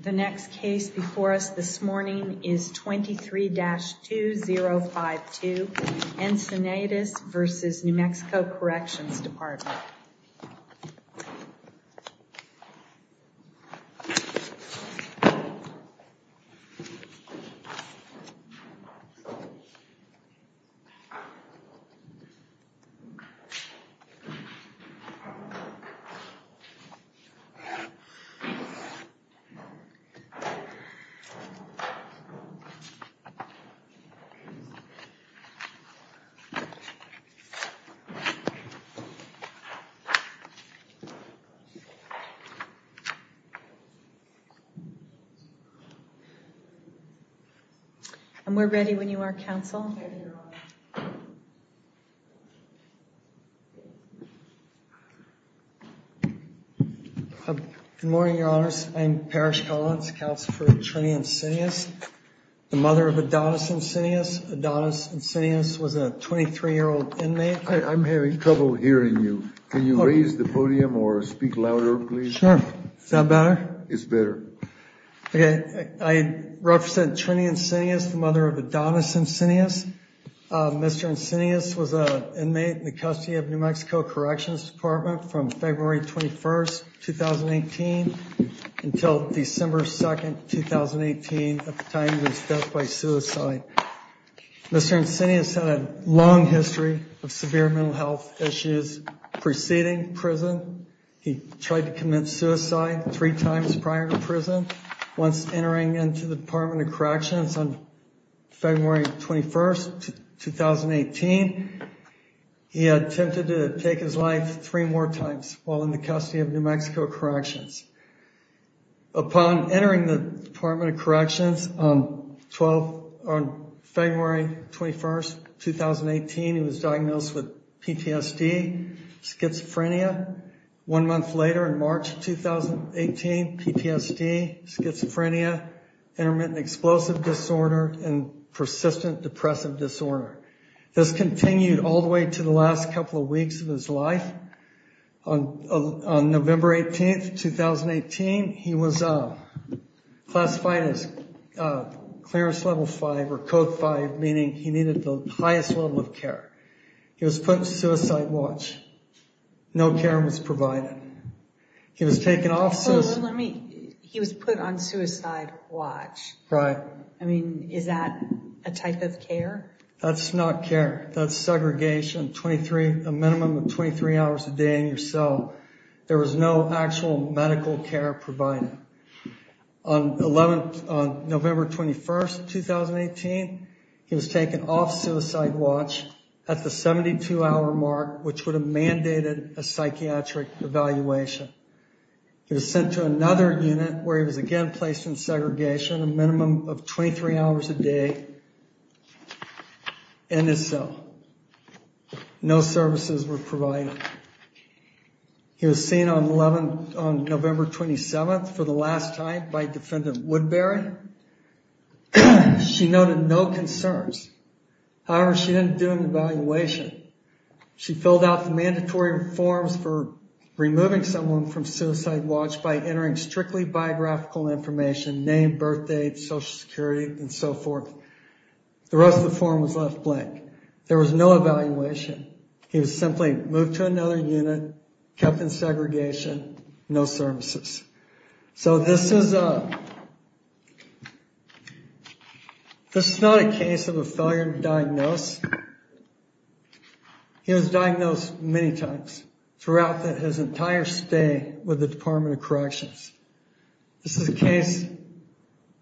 The next case before us this morning is 23-2052 Encinitas v. New Mexico Corrections Department. And we're ready when you are, counsel. Good morning, Your Honors. I'm Parrish Collins, counsel for Trini Encinias, the mother of Adonis Encinias. Adonis Encinias was a 23-year-old inmate. I'm having trouble hearing you. Can you raise the podium or speak louder, please? Sure. Is that better? It's better. Okay. I represent Trini Encinias, the mother of Adonis Encinias. Mr. Encinias was an inmate in the custody of New Mexico Corrections Department from February 21, 2018 until December 2, 2018, at the time of his death by suicide. Mr. Encinias had a long history of severe mental health issues preceding prison. He tried to commit suicide three times prior to prison. Once entering into the Department of Corrections on February 21, 2018, he attempted to take his life three more times while in the custody of New Mexico Corrections. Upon entering the Department of Corrections on February 21, 2018, he was diagnosed with PTSD, schizophrenia. One month later, in March 2018, PTSD, schizophrenia, intermittent explosive disorder, and persistent depressive disorder. This continued all the way to the last couple of weeks of his life. On November 18, 2018, he was classified as Clearance Level 5 or Code 5, meaning he needed the highest level of care. He was put on suicide watch. No care was provided. He was taken off- So let me, he was put on suicide watch. Right. I mean, is that a type of care? That's not care. That's segregation, a minimum of 23 hours a day in your cell. There was no actual medical care provided. On November 21, 2018, he was taken off suicide watch at the 72-hour mark, which would have mandated a psychiatric evaluation. He was sent to another unit where he was again placed in segregation, a minimum of 23 hours a day in his cell. No services were provided. He was seen on November 27th for the last time by Defendant Woodbury. She noted no concerns. However, she didn't do an evaluation. She filled out the mandatory forms for removing someone from suicide watch by entering strictly biographical information, name, birth date, Social Security, and so forth. The rest of the form was left blank. There was no evaluation. He was simply moved to another unit, kept in segregation, no services. So this is not a case of a failure to diagnose. He was diagnosed many times throughout his entire stay with the Department of Corrections. This is a case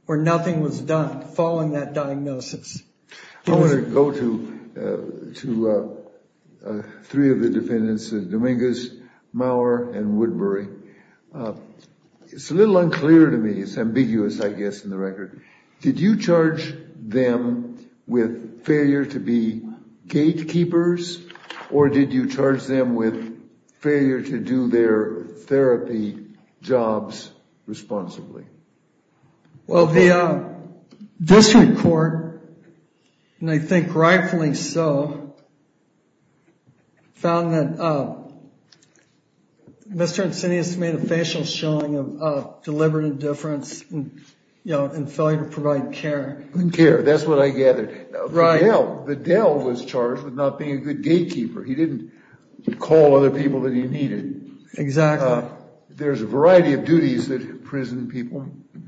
where nothing was done following that diagnosis. I want to go to three of the defendants, Dominguez, Maurer, and Woodbury. It's a little unclear to me. It's ambiguous, I guess, in the record. Did you charge them with failure to be gatekeepers, or did you charge them with failure to do their therapy jobs responsibly? Well, the district court, and I think rightfully so, found that Mr. Insinius made a facial showing of deliberate indifference and failure to provide care. Care, that's what I gathered. Right. Vidal was charged with not being a good gatekeeper. He didn't call other people that he needed. Exactly. There's a variety of duties that prison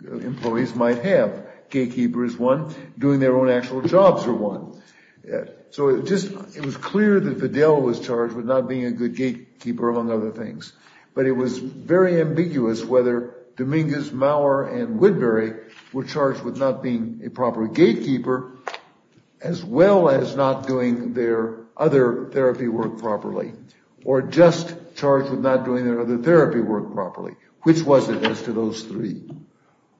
employees might have. Gatekeeper is one. Doing their own actual jobs are one. So it was clear that Vidal was charged with not being a good gatekeeper, among other things. But it was very ambiguous whether Dominguez, Maurer, and Woodbury were charged with not being a proper gatekeeper, as well as not doing their other therapy work properly, or just charged with not doing their other therapy work properly. Which was it as to those three?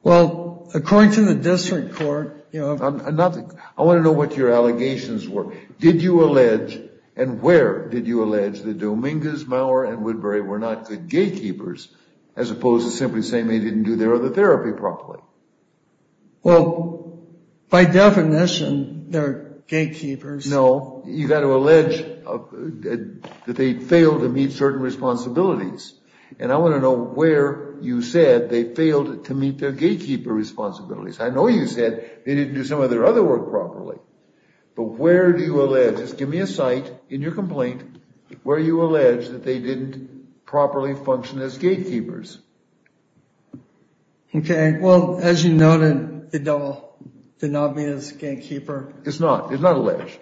Well, according to the district court... Nothing. I want to know what your allegations were. Did you allege, and where did you allege, that Dominguez, Maurer, and Woodbury were not good gatekeepers, as opposed to simply saying they didn't do their other therapy properly? Well, by definition, they're gatekeepers. No, you've got to allege that they failed to meet certain responsibilities. And I want to know where you said they failed to meet their gatekeeper responsibilities. I know you said they didn't do some of their other work properly. But where do you allege? Just give me a site in your complaint where you allege that they didn't properly function as gatekeepers. Okay. Well, as you noted, Vidal did not meet as gatekeeper. It's not. It's not alleged.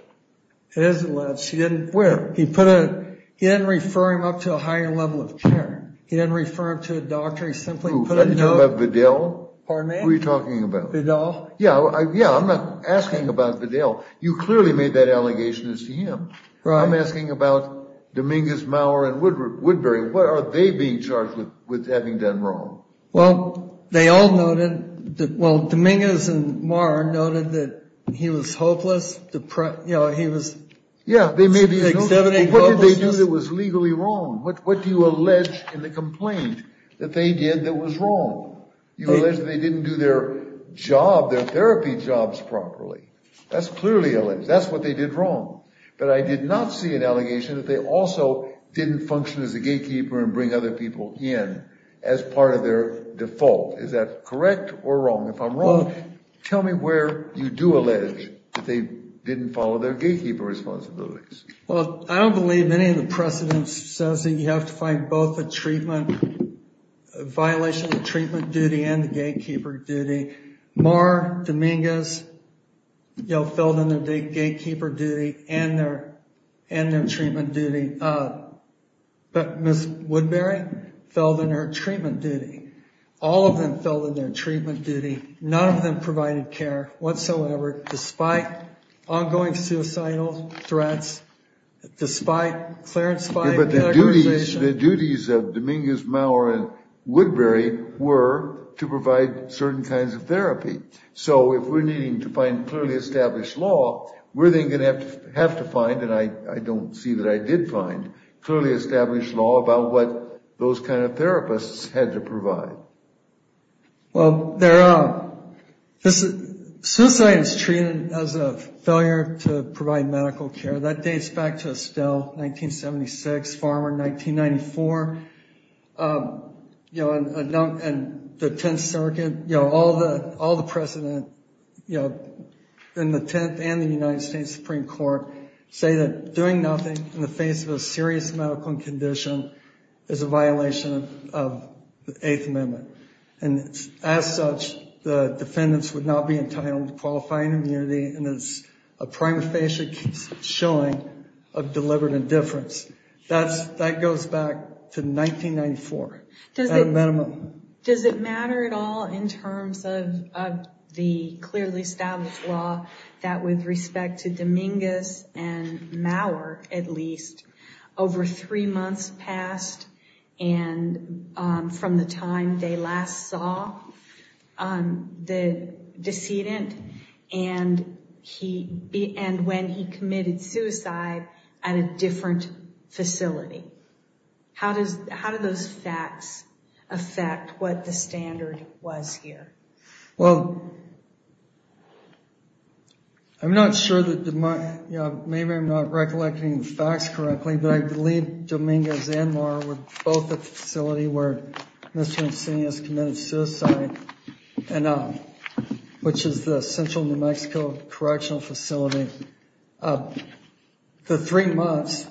It is alleged. Where? He didn't refer him up to a higher level of care. He didn't refer him to a doctor. Are you talking about Vidal? Pardon me? Who are you talking about? Vidal. Yeah, I'm not asking about Vidal. You clearly made that allegation as to him. I'm asking about Dominguez, Maurer, and Woodbury. What are they being charged with having done wrong? Well, they all noted, well, Dominguez and Maurer noted that he was hopeless. You know, he was exhibiting hopelessness. Yeah, they may be. What did they do that was legally wrong? What do you allege in the complaint that they did that was wrong? You allege that they didn't do their job, their therapy jobs properly. That's clearly alleged. That's what they did wrong. But I did not see an allegation that they also didn't function as a gatekeeper and bring other people in as part of their default. Is that correct or wrong? If I'm wrong, tell me where you do allege that they didn't follow their gatekeeper responsibilities. Well, I don't believe any of the precedents says that you have to find both a treatment, a violation of the treatment duty and the gatekeeper duty. Maurer, Dominguez, you know, filled in their gatekeeper duty and their treatment duty. But Ms. Woodbury filled in her treatment duty. All of them filled in their treatment duty. None of them provided care whatsoever, despite ongoing suicidal threats, despite clearance by medicalization. The duties of Dominguez, Maurer, and Woodbury were to provide certain kinds of therapy. So if we're needing to find clearly established law, we're then going to have to find, and I don't see that I did find clearly established law about what those kind of therapists had to provide. Well, there are. Suicide is treated as a failure to provide medical care. That dates back to Estelle, 1976. Farmer, 1994. You know, and the Tenth Circuit, you know, all the precedent in the Tenth and the United States Supreme Court say that doing nothing in the face of a serious medical condition is a violation of the Eighth Amendment. And as such, the defendants would not be entitled to qualifying immunity, and it's a prima facie showing of deliberate indifference. That goes back to 1994, at a minimum. Does it matter at all in terms of the clearly established law that with respect to Dominguez and Maurer, at least, over three months passed from the time they last saw the decedent and when he committed suicide at a different facility? How do those facts affect what the standard was here? Well, I'm not sure that the mind, you know, maybe I'm not recollecting the facts correctly, but I believe Dominguez and Maurer were both at the facility where Mr. Insigne has committed suicide, which is the Central New Mexico Correctional Facility. The three months,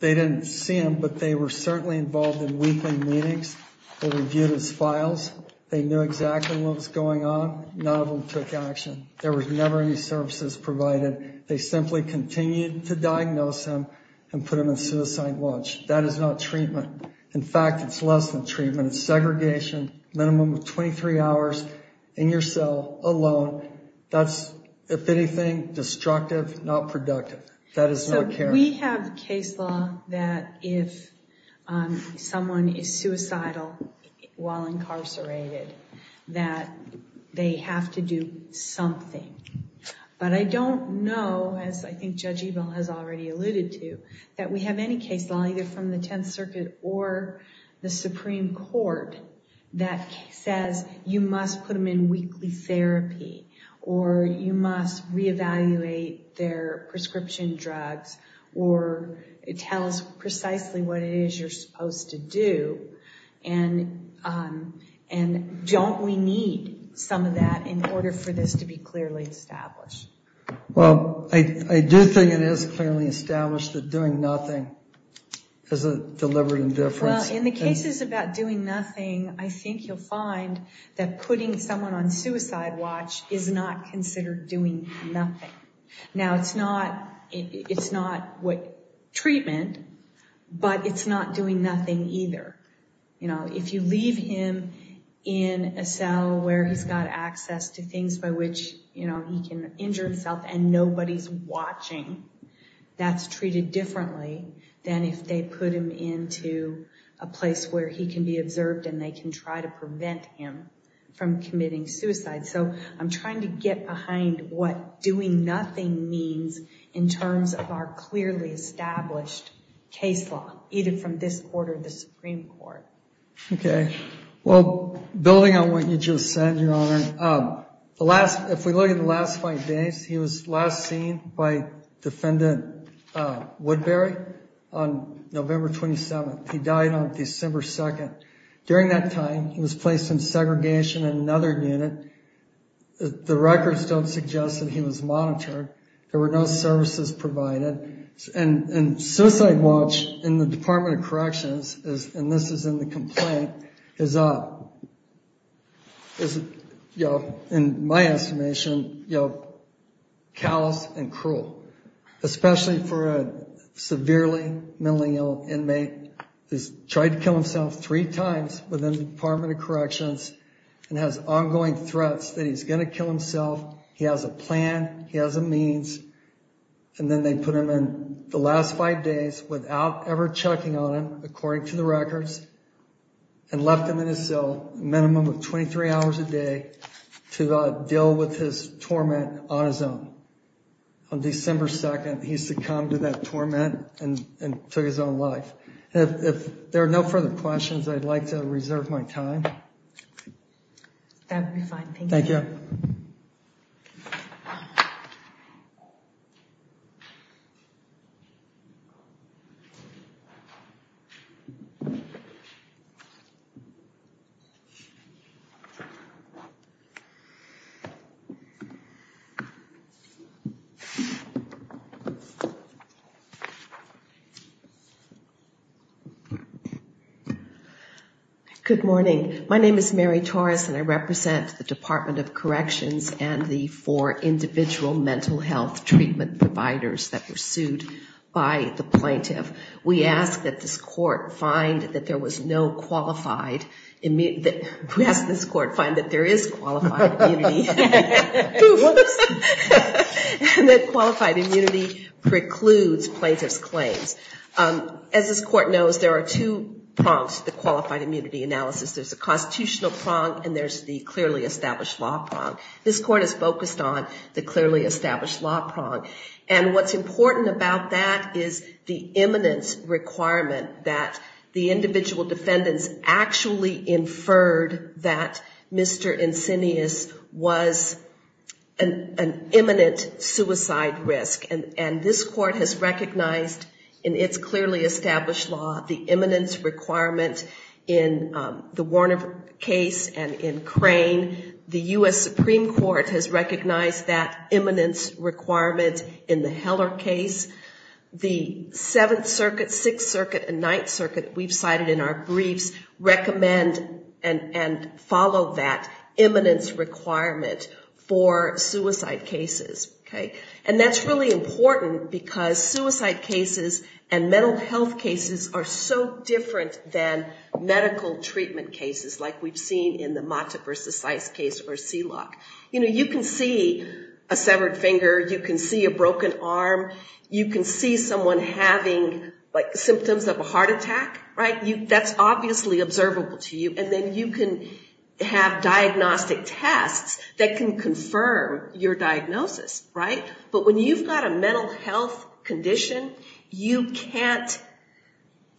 they didn't see him, but they were certainly involved in weekly meetings. They reviewed his files. They knew exactly what was going on. None of them took action. There was never any services provided. They simply continued to diagnose him and put him on suicide watch. That is not treatment. In fact, it's less than treatment. It's segregation, minimum of 23 hours in your cell alone. That's, if anything, destructive, not productive. That is not care. We have case law that if someone is suicidal while incarcerated, that they have to do something. But I don't know, as I think Judge Ebel has already alluded to, that we have any case law, either from the Tenth Circuit or the Supreme Court, that says you must put them in weekly therapy, or you must reevaluate their prescription drugs, or it tells precisely what it is you're supposed to do. And don't we need some of that in order for this to be clearly established? Well, I do think it is clearly established that doing nothing is a deliberate indifference. Well, in the cases about doing nothing, I think you'll find that putting someone on suicide watch is not considered doing nothing. Now, it's not treatment, but it's not doing nothing either. If you leave him in a cell where he's got access to things by which he can injure himself and nobody's watching, that's treated differently than if they put him into a place where he can be observed and they can try to prevent him from committing suicide. So I'm trying to get behind what doing nothing means in terms of our clearly established case law, either from this court or the Supreme Court. Okay. Well, building on what you just said, Your Honor, if we look at the last five days, he was last seen by Defendant Woodbury on November 27th. He died on December 2nd. During that time, he was placed in segregation in another unit. The records don't suggest that he was monitored. There were no services provided. And suicide watch in the Department of Corrections, and this is in the complaint, is, in my estimation, callous and cruel, especially for a severely mentally ill inmate who's tried to kill himself three times within the Department of Corrections and has ongoing threats that he's going to kill himself. He has a plan. He has a means. And then they put him in the last five days without ever checking on him, according to the records, and left him in his cell a minimum of 23 hours a day to deal with his torment on his own. On December 2nd, he succumbed to that torment and took his own life. If there are no further questions, I'd like to reserve my time. That would be fine. Thank you. Thank you. Thank you. Good morning. My name is Mary Torres, and I represent the Department of Corrections and the four individual mental health treatment providers that were sued by the plaintiff. We ask that this court find that there was no qualified immunity. We ask this court find that there is qualified immunity. And that qualified immunity precludes plaintiff's claims. As this court knows, there are two prongs to the qualified immunity analysis. There's a constitutional prong and there's the clearly established law prong. This court is focused on the clearly established law prong. And what's important about that is the eminence requirement that the individual defendants actually inferred that Mr. Insinius was an imminent suicide risk. And this court has recognized in its clearly established law the eminence requirement in the Warner case and in Crane. The U.S. Supreme Court has recognized that eminence requirement in the Heller case. The Seventh Circuit, Sixth Circuit, and Ninth Circuit, we've cited in our briefs, recommend and follow that eminence requirement for suicide cases. Okay? And that's really important because suicide cases and mental health cases are so different than medical treatment cases like we've seen in the Mata v. Seitz case or Seelock. You know, you can see a severed finger. You can see a broken arm. You can see someone having, like, symptoms of a heart attack. Right? That's obviously observable to you. And then you can have diagnostic tests that can confirm your diagnosis. Right? But when you've got a mental health condition, you can't ‑‑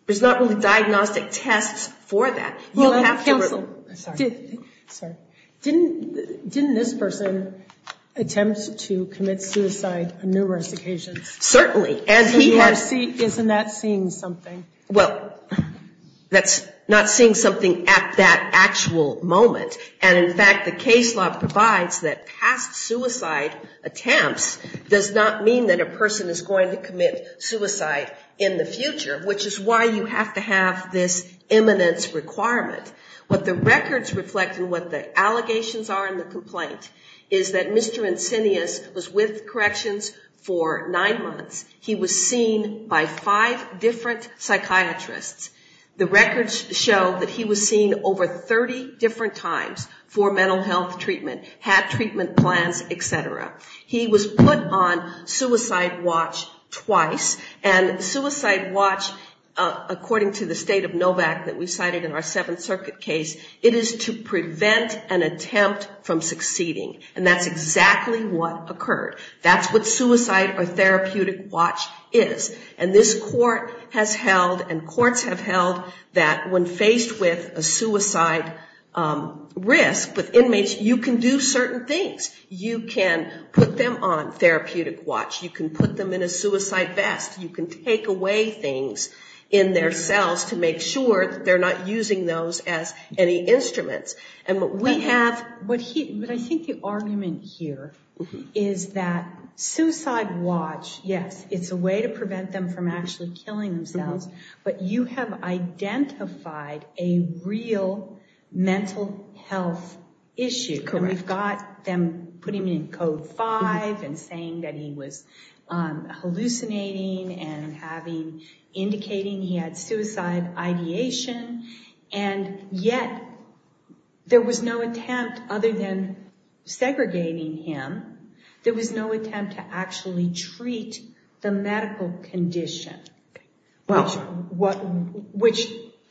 there's not really diagnostic tests for that. You'll have to ‑‑ Sorry. Sorry. Didn't this person attempt to commit suicide on numerous occasions? Certainly. And he had ‑‑ Isn't that seeing something? Well, that's not seeing something at that actual moment. And, in fact, the case law provides that past suicide attempts does not mean that a person is going to commit suicide in the future, which is why you have to have this eminence requirement. What the records reflect and what the allegations are in the complaint is that Mr. The records show that he was seen over 30 different times for mental health treatment, had treatment plans, et cetera. He was put on suicide watch twice. And suicide watch, according to the state of NOVAC that we cited in our Seventh Circuit case, it is to prevent an attempt from succeeding. And that's exactly what occurred. That's what suicide or therapeutic watch is. And this court has held and courts have held that when faced with a suicide risk with inmates, you can do certain things. You can put them on therapeutic watch. You can put them in a suicide vest. You can take away things in their cells to make sure that they're not using those as any instruments. And what we have ‑‑ But I think the argument here is that suicide watch, yes, it's a way to prevent them from actually killing themselves. But you have identified a real mental health issue. Correct. And we've got them putting him in Code 5 and saying that he was hallucinating and having indicating he had suicide ideation. And yet there was no attempt other than segregating him. There was no attempt to actually treat the medical condition. Okay. Which,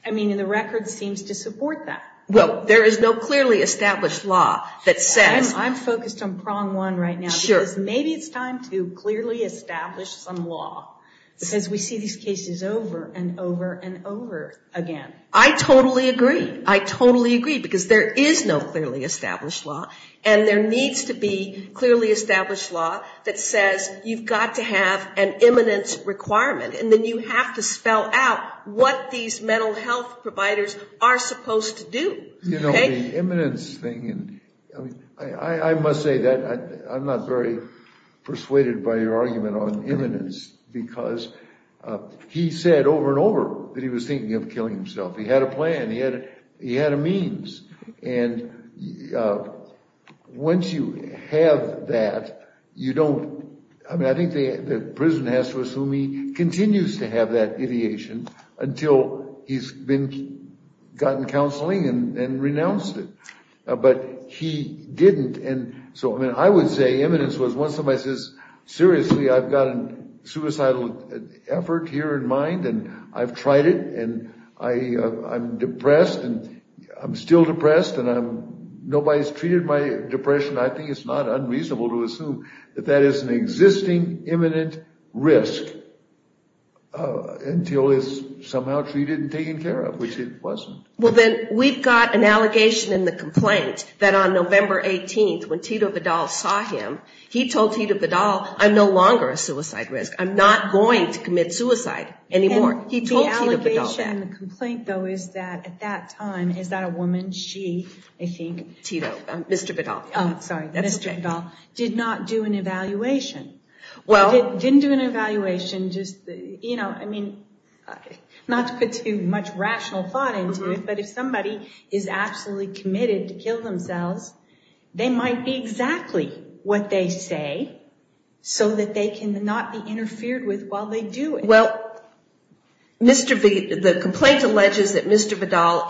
I mean, the record seems to support that. Well, there is no clearly established law that says ‑‑ I'm focused on prong one right now. Sure. Because maybe it's time to clearly establish some law. Because we see these cases over and over and over again. I totally agree. I totally agree. Because there is no clearly established law. And there needs to be clearly established law that says you've got to have an imminence requirement. And then you have to spell out what these mental health providers are supposed to do. You know, the imminence thing, I must say that I'm not very persuaded by your argument on imminence. Because he said over and over that he was thinking of killing himself. He had a plan. He had a means. And once you have that, you don't ‑‑ I mean, I think the prison has to assume he continues to have that ideation until he's gotten counseling and renounced it. But he didn't. And so, I mean, I would say imminence was once somebody says, seriously, I've got a suicidal effort here in mind and I've tried it and I'm depressed and I'm still depressed and nobody's treated my depression, I think it's not unreasonable to assume that that is an existing imminent risk until it's somehow treated and taken care of, which it wasn't. Well, then, we've got an allegation in the complaint that on November 18th, when Tito Vidal saw him, he told Tito Vidal, I'm no longer a suicide risk. I'm not going to commit suicide anymore. He told Tito Vidal that. The allegation in the complaint, though, is that at that time, is that a woman, she, I think ‑‑ Tito, Mr. Vidal. Oh, sorry. Mr. Vidal did not do an evaluation. Didn't do an evaluation, just, you know, I mean, not to put too much rational thought into it, but if somebody is absolutely committed to kill themselves, they might be exactly what they say so that they cannot be interfered with while they do it. Well, Mr. Vidal, the complaint alleges that Mr. Vidal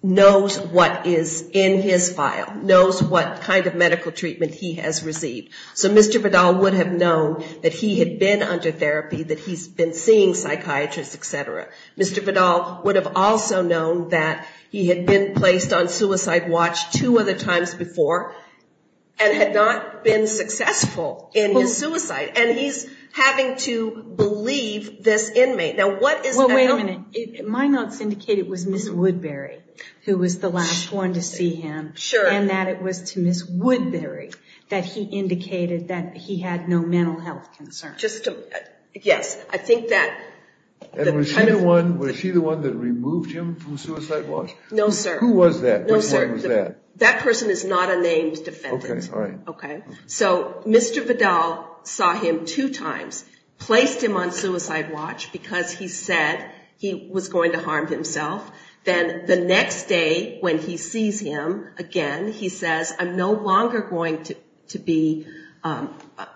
knows what is in his file, knows what kind of medical treatment he has received. So Mr. Vidal would have known that he had been under therapy, that he's been seeing psychiatrists, et cetera. Mr. Vidal would have also known that he had been placed on suicide watch two other times before and had not been successful in his suicide, and he's having to believe this inmate. Now, what is ‑‑ Well, wait a minute. My notes indicate it was Ms. Woodbury who was the last one to see him. Sure. And that it was to Ms. Woodbury that he indicated that he had no mental health concerns. Just to ‑‑ yes. I think that ‑‑ And was she the one that removed him from suicide watch? No, sir. Who was that? No, sir. Which one was that? That person is not a named defendant. Okay. All right. Okay. So Mr. Vidal saw him two times, placed him on suicide watch because he said he was going to harm himself. Then the next day when he sees him again, he says, I'm no longer going to be ‑‑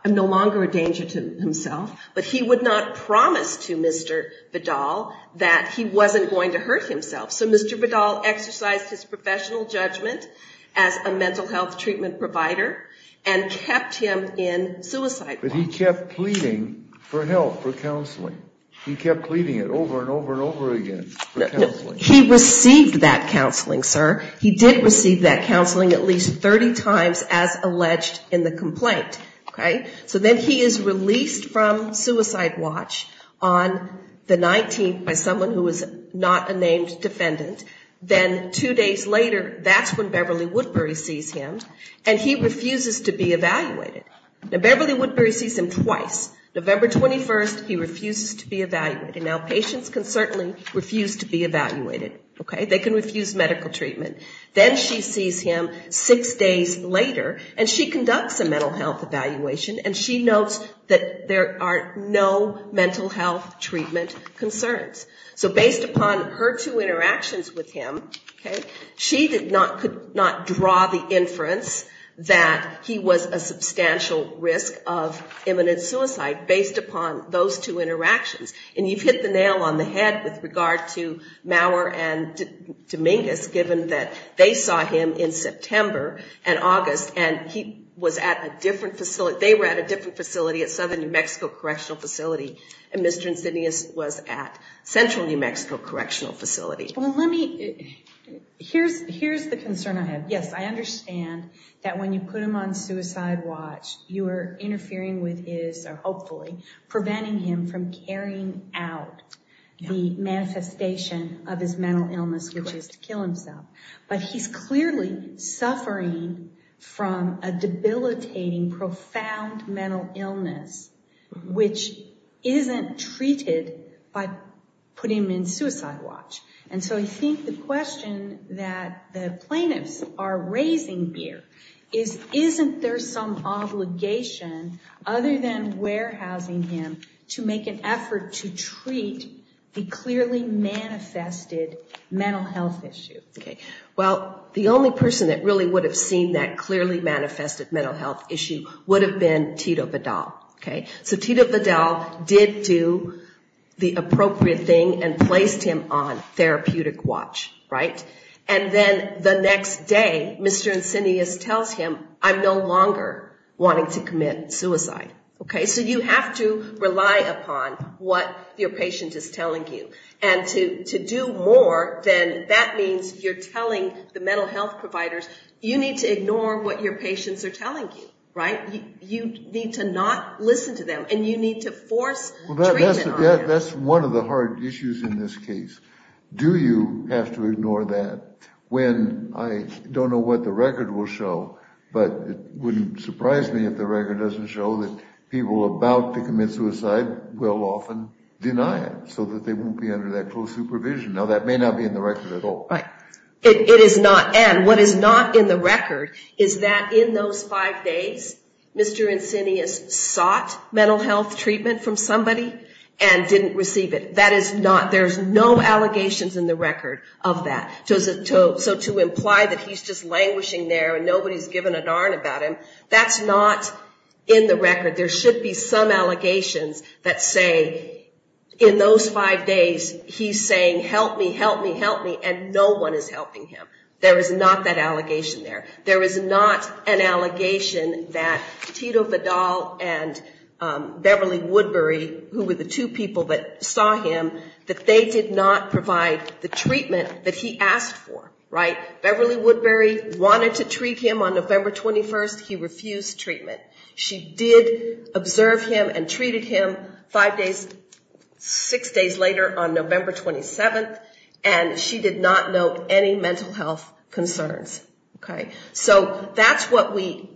I'm no longer a danger to himself. But he would not promise to Mr. Vidal that he wasn't going to hurt himself. So Mr. Vidal exercised his professional judgment as a mental health treatment provider and kept him in suicide watch. But he kept pleading for help, for counseling. He kept pleading it over and over and over again for counseling. He received that counseling, sir. He did receive that counseling at least 30 times as alleged in the complaint. Okay. So then he is released from suicide watch on the 19th by someone who is not a named defendant. Then two days later, that's when Beverly Woodbury sees him. And he refuses to be evaluated. Now, Beverly Woodbury sees him twice. November 21st, he refuses to be evaluated. Now, patients can certainly refuse to be evaluated. Okay. They can refuse medical treatment. Then she sees him six days later and she conducts a mental health evaluation and she notes that there are no mental health treatment concerns. So based upon her two interactions with him, okay, she could not draw the inference that he was a substantial risk of imminent suicide based upon those two interactions. And you've hit the nail on the head with regard to Maurer and Dominguez, given that they saw him in September and August, and he was at a different facility. They were at a different facility at Southern New Mexico Correctional Facility, Here's the concern I have. Yes, I understand that when you put him on suicide watch, you are interfering with his, or hopefully, preventing him from carrying out the manifestation of his mental illness, which is to kill himself. But he's clearly suffering from a debilitating, profound mental illness, which isn't treated by putting him in suicide watch. And so I think the question that the plaintiffs are raising here is, isn't there some obligation, other than warehousing him, to make an effort to treat the clearly manifested mental health issue? Okay. Well, the only person that really would have seen that clearly manifested mental health issue would have been Tito Vidal, okay. So Tito Vidal did do the appropriate thing and placed him on therapeutic watch, right. And then the next day, Mr. Insinius tells him, I'm no longer wanting to commit suicide, okay. So you have to rely upon what your patient is telling you. And to do more than that means you're telling the mental health providers, you need to ignore what your patients are telling you, right. You need to not listen to them, and you need to force treatment on them. That's one of the hard issues in this case. Do you have to ignore that when I don't know what the record will show, but it wouldn't surprise me if the record doesn't show that people about to commit suicide will often deny it so that they won't be under that close supervision. Now, that may not be in the record at all. Right. It is not, and what is not in the record is that in those five days, Mr. Insinius sought mental health treatment from somebody and didn't receive it. That is not, there's no allegations in the record of that. So to imply that he's just languishing there and nobody's giving a darn about him, that's not in the record. There should be some allegations that say in those five days he's saying, help me, help me, help me, and no one is helping him. There is not that allegation there. There is not an allegation that Tito Vidal and Beverly Woodbury, who were the two people that saw him, that they did not provide the treatment that he asked for. Right. Beverly Woodbury wanted to treat him on November 21st. He refused treatment. She did observe him and treated him five days, six days later on November 27th, and she did not note any mental health concerns. Okay. So that's what we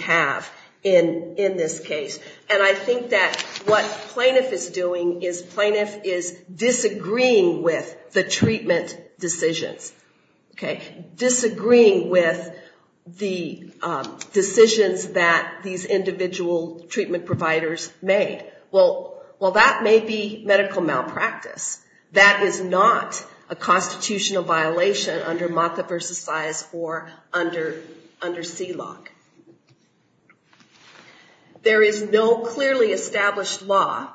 have in this case, and I think that what plaintiff is doing is plaintiff is disagreeing with the treatment decisions. Okay. Disagreeing with the decisions that these individual treatment providers made. Well, that may be medical malpractice. That is not a constitutional violation under MOTCA versus CISE or under CILOG. There is no clearly established law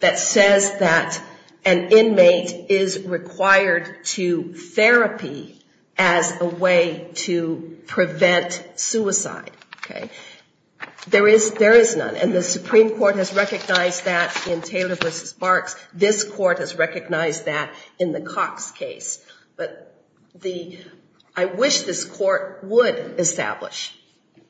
that says that an inmate is required to therapy as a way to prevent suicide. Okay. There is none, and the Supreme Court has recognized that in Taylor v. Barks. This court has recognized that in the Cox case. But I wish this court would establish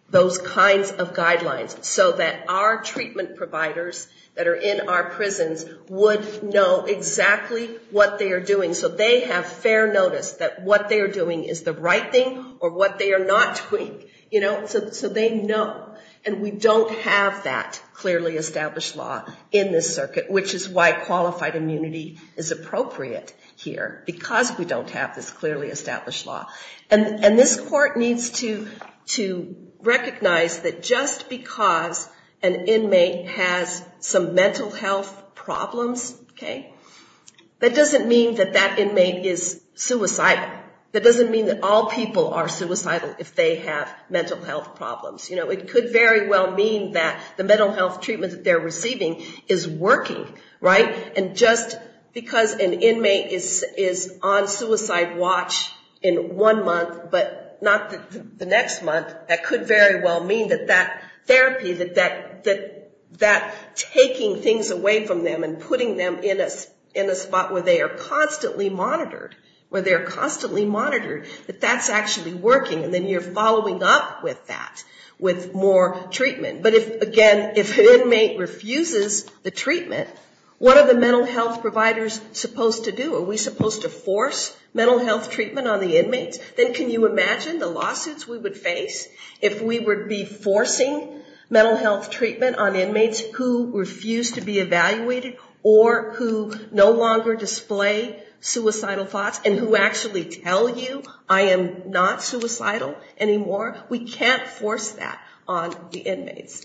those kinds of guidelines so that our treatment providers that are in our prisons would know exactly what they are doing so they have fair notice that what they are doing is the right thing or what they are not doing. You know, so they know. And we don't have that clearly established law in this circuit, which is why qualified immunity is appropriate here, because we don't have this clearly established law. And this court needs to recognize that just because an inmate has some mental health problems, okay, that doesn't mean that that inmate is suicidal. That doesn't mean that all people are suicidal if they have mental health problems. You know, it could very well mean that the mental health treatment that they are receiving is working, right? And just because an inmate is on suicide watch in one month but not the next month, that could very well mean that that therapy, that taking things away from them and putting them in a spot where they are constantly monitored, where they are constantly monitored, that that's actually working and then you're following up with that with more treatment. But again, if an inmate refuses the treatment, what are the mental health providers supposed to do? Are we supposed to force mental health treatment on the inmates? Then can you imagine the lawsuits we would face if we would be forcing mental health treatment on inmates who refuse to be evaluated or who no longer display suicidal thoughts and who actually tell you, I am not suicidal anymore. We can't force that on the inmates.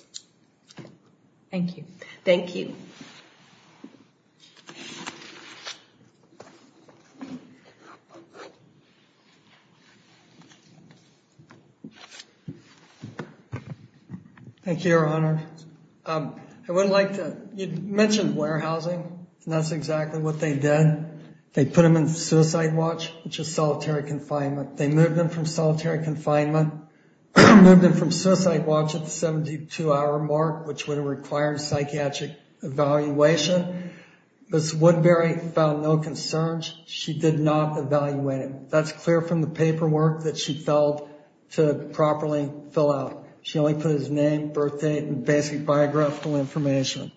Thank you. Thank you. Thank you, Your Honor. I would like to, you mentioned warehousing and that's exactly what they did. They put him in suicide watch, which is solitary confinement. They moved him from solitary confinement, moved him from suicide watch at the 72-hour mark, which would require a psychiatric evaluation. Ms. Woodbury found no concerns. She did not evaluate him. That's clear from the paperwork that she filed to properly fill out. She only put his name, birth date, and basic biographical information.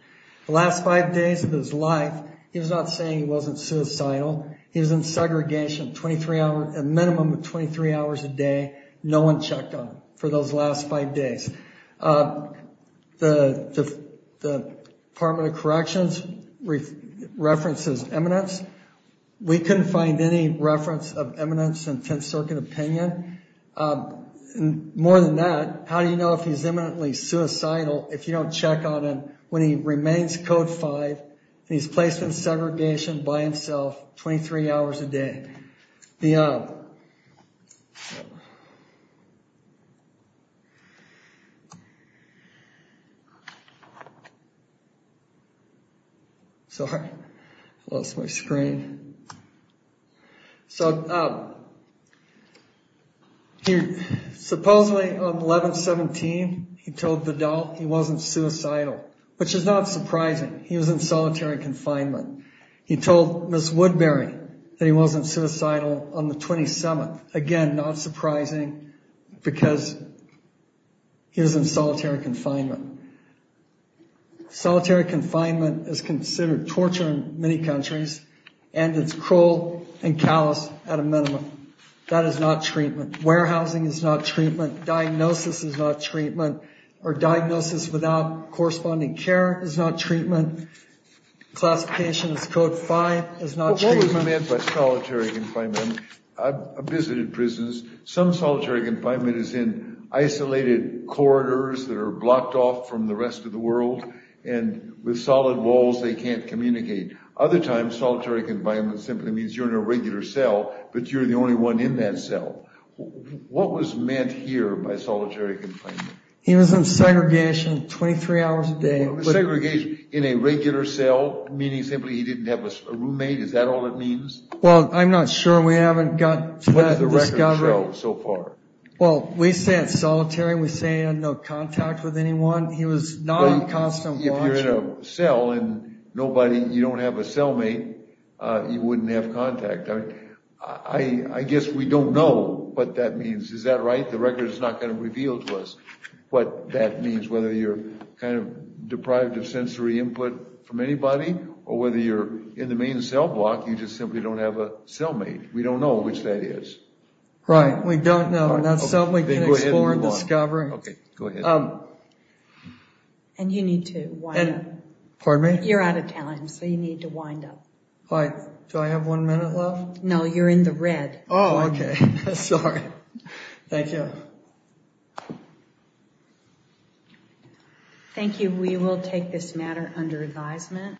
The last five days of his life, he was not saying he wasn't suicidal. He was in segregation a minimum of 23 hours a day. No one checked on him for those last five days. The Department of Corrections references eminence. We couldn't find any reference of eminence in Tenth Circuit opinion. More than that, how do you know if he's eminently suicidal if you don't check on him when he remains Code 5 and he's placed in segregation by himself 23 hours a day? Sorry, I lost my screen. Supposedly on 11-17, he told the adult he wasn't suicidal, which is not surprising. He was in solitary confinement. He told Ms. Woodbury that he wasn't suicidal on the 27th. Again, not surprising because he was in solitary confinement. Solitary confinement is considered torture in many countries, and it's cruel and callous at a minimum. That is not treatment. Warehousing is not treatment. Diagnosis is not treatment. Diagnosis without corresponding care is not treatment. Classification as Code 5 is not treatment. What was meant by solitary confinement? I've visited prisons. Some solitary confinement is in isolated corridors that are blocked off from the rest of the world, and with solid walls, they can't communicate. Other times, solitary confinement simply means you're in a regular cell, but you're the only one in that cell. What was meant here by solitary confinement? He was in segregation 23 hours a day. Segregation in a regular cell, meaning simply he didn't have a roommate? Is that all it means? Well, I'm not sure. What does the record show so far? Well, we say it's solitary. We say he had no contact with anyone. He was non-constant watching. If you're in a cell and you don't have a cellmate, you wouldn't have contact. I guess we don't know what that means. Is that right? The record is not going to reveal to us what that means, whether you're kind of deprived of sensory input from anybody or whether you're in the main cell block, you just simply don't have a cellmate. We don't know which that is. Right. We don't know. That's something we can explore and discover. Okay. Go ahead. And you need to wind up. Pardon me? You're out of time, so you need to wind up. Do I have one minute left? No, you're in the red. Oh, okay. Sorry. Thank you. Thank you. We will take this matter under advisement.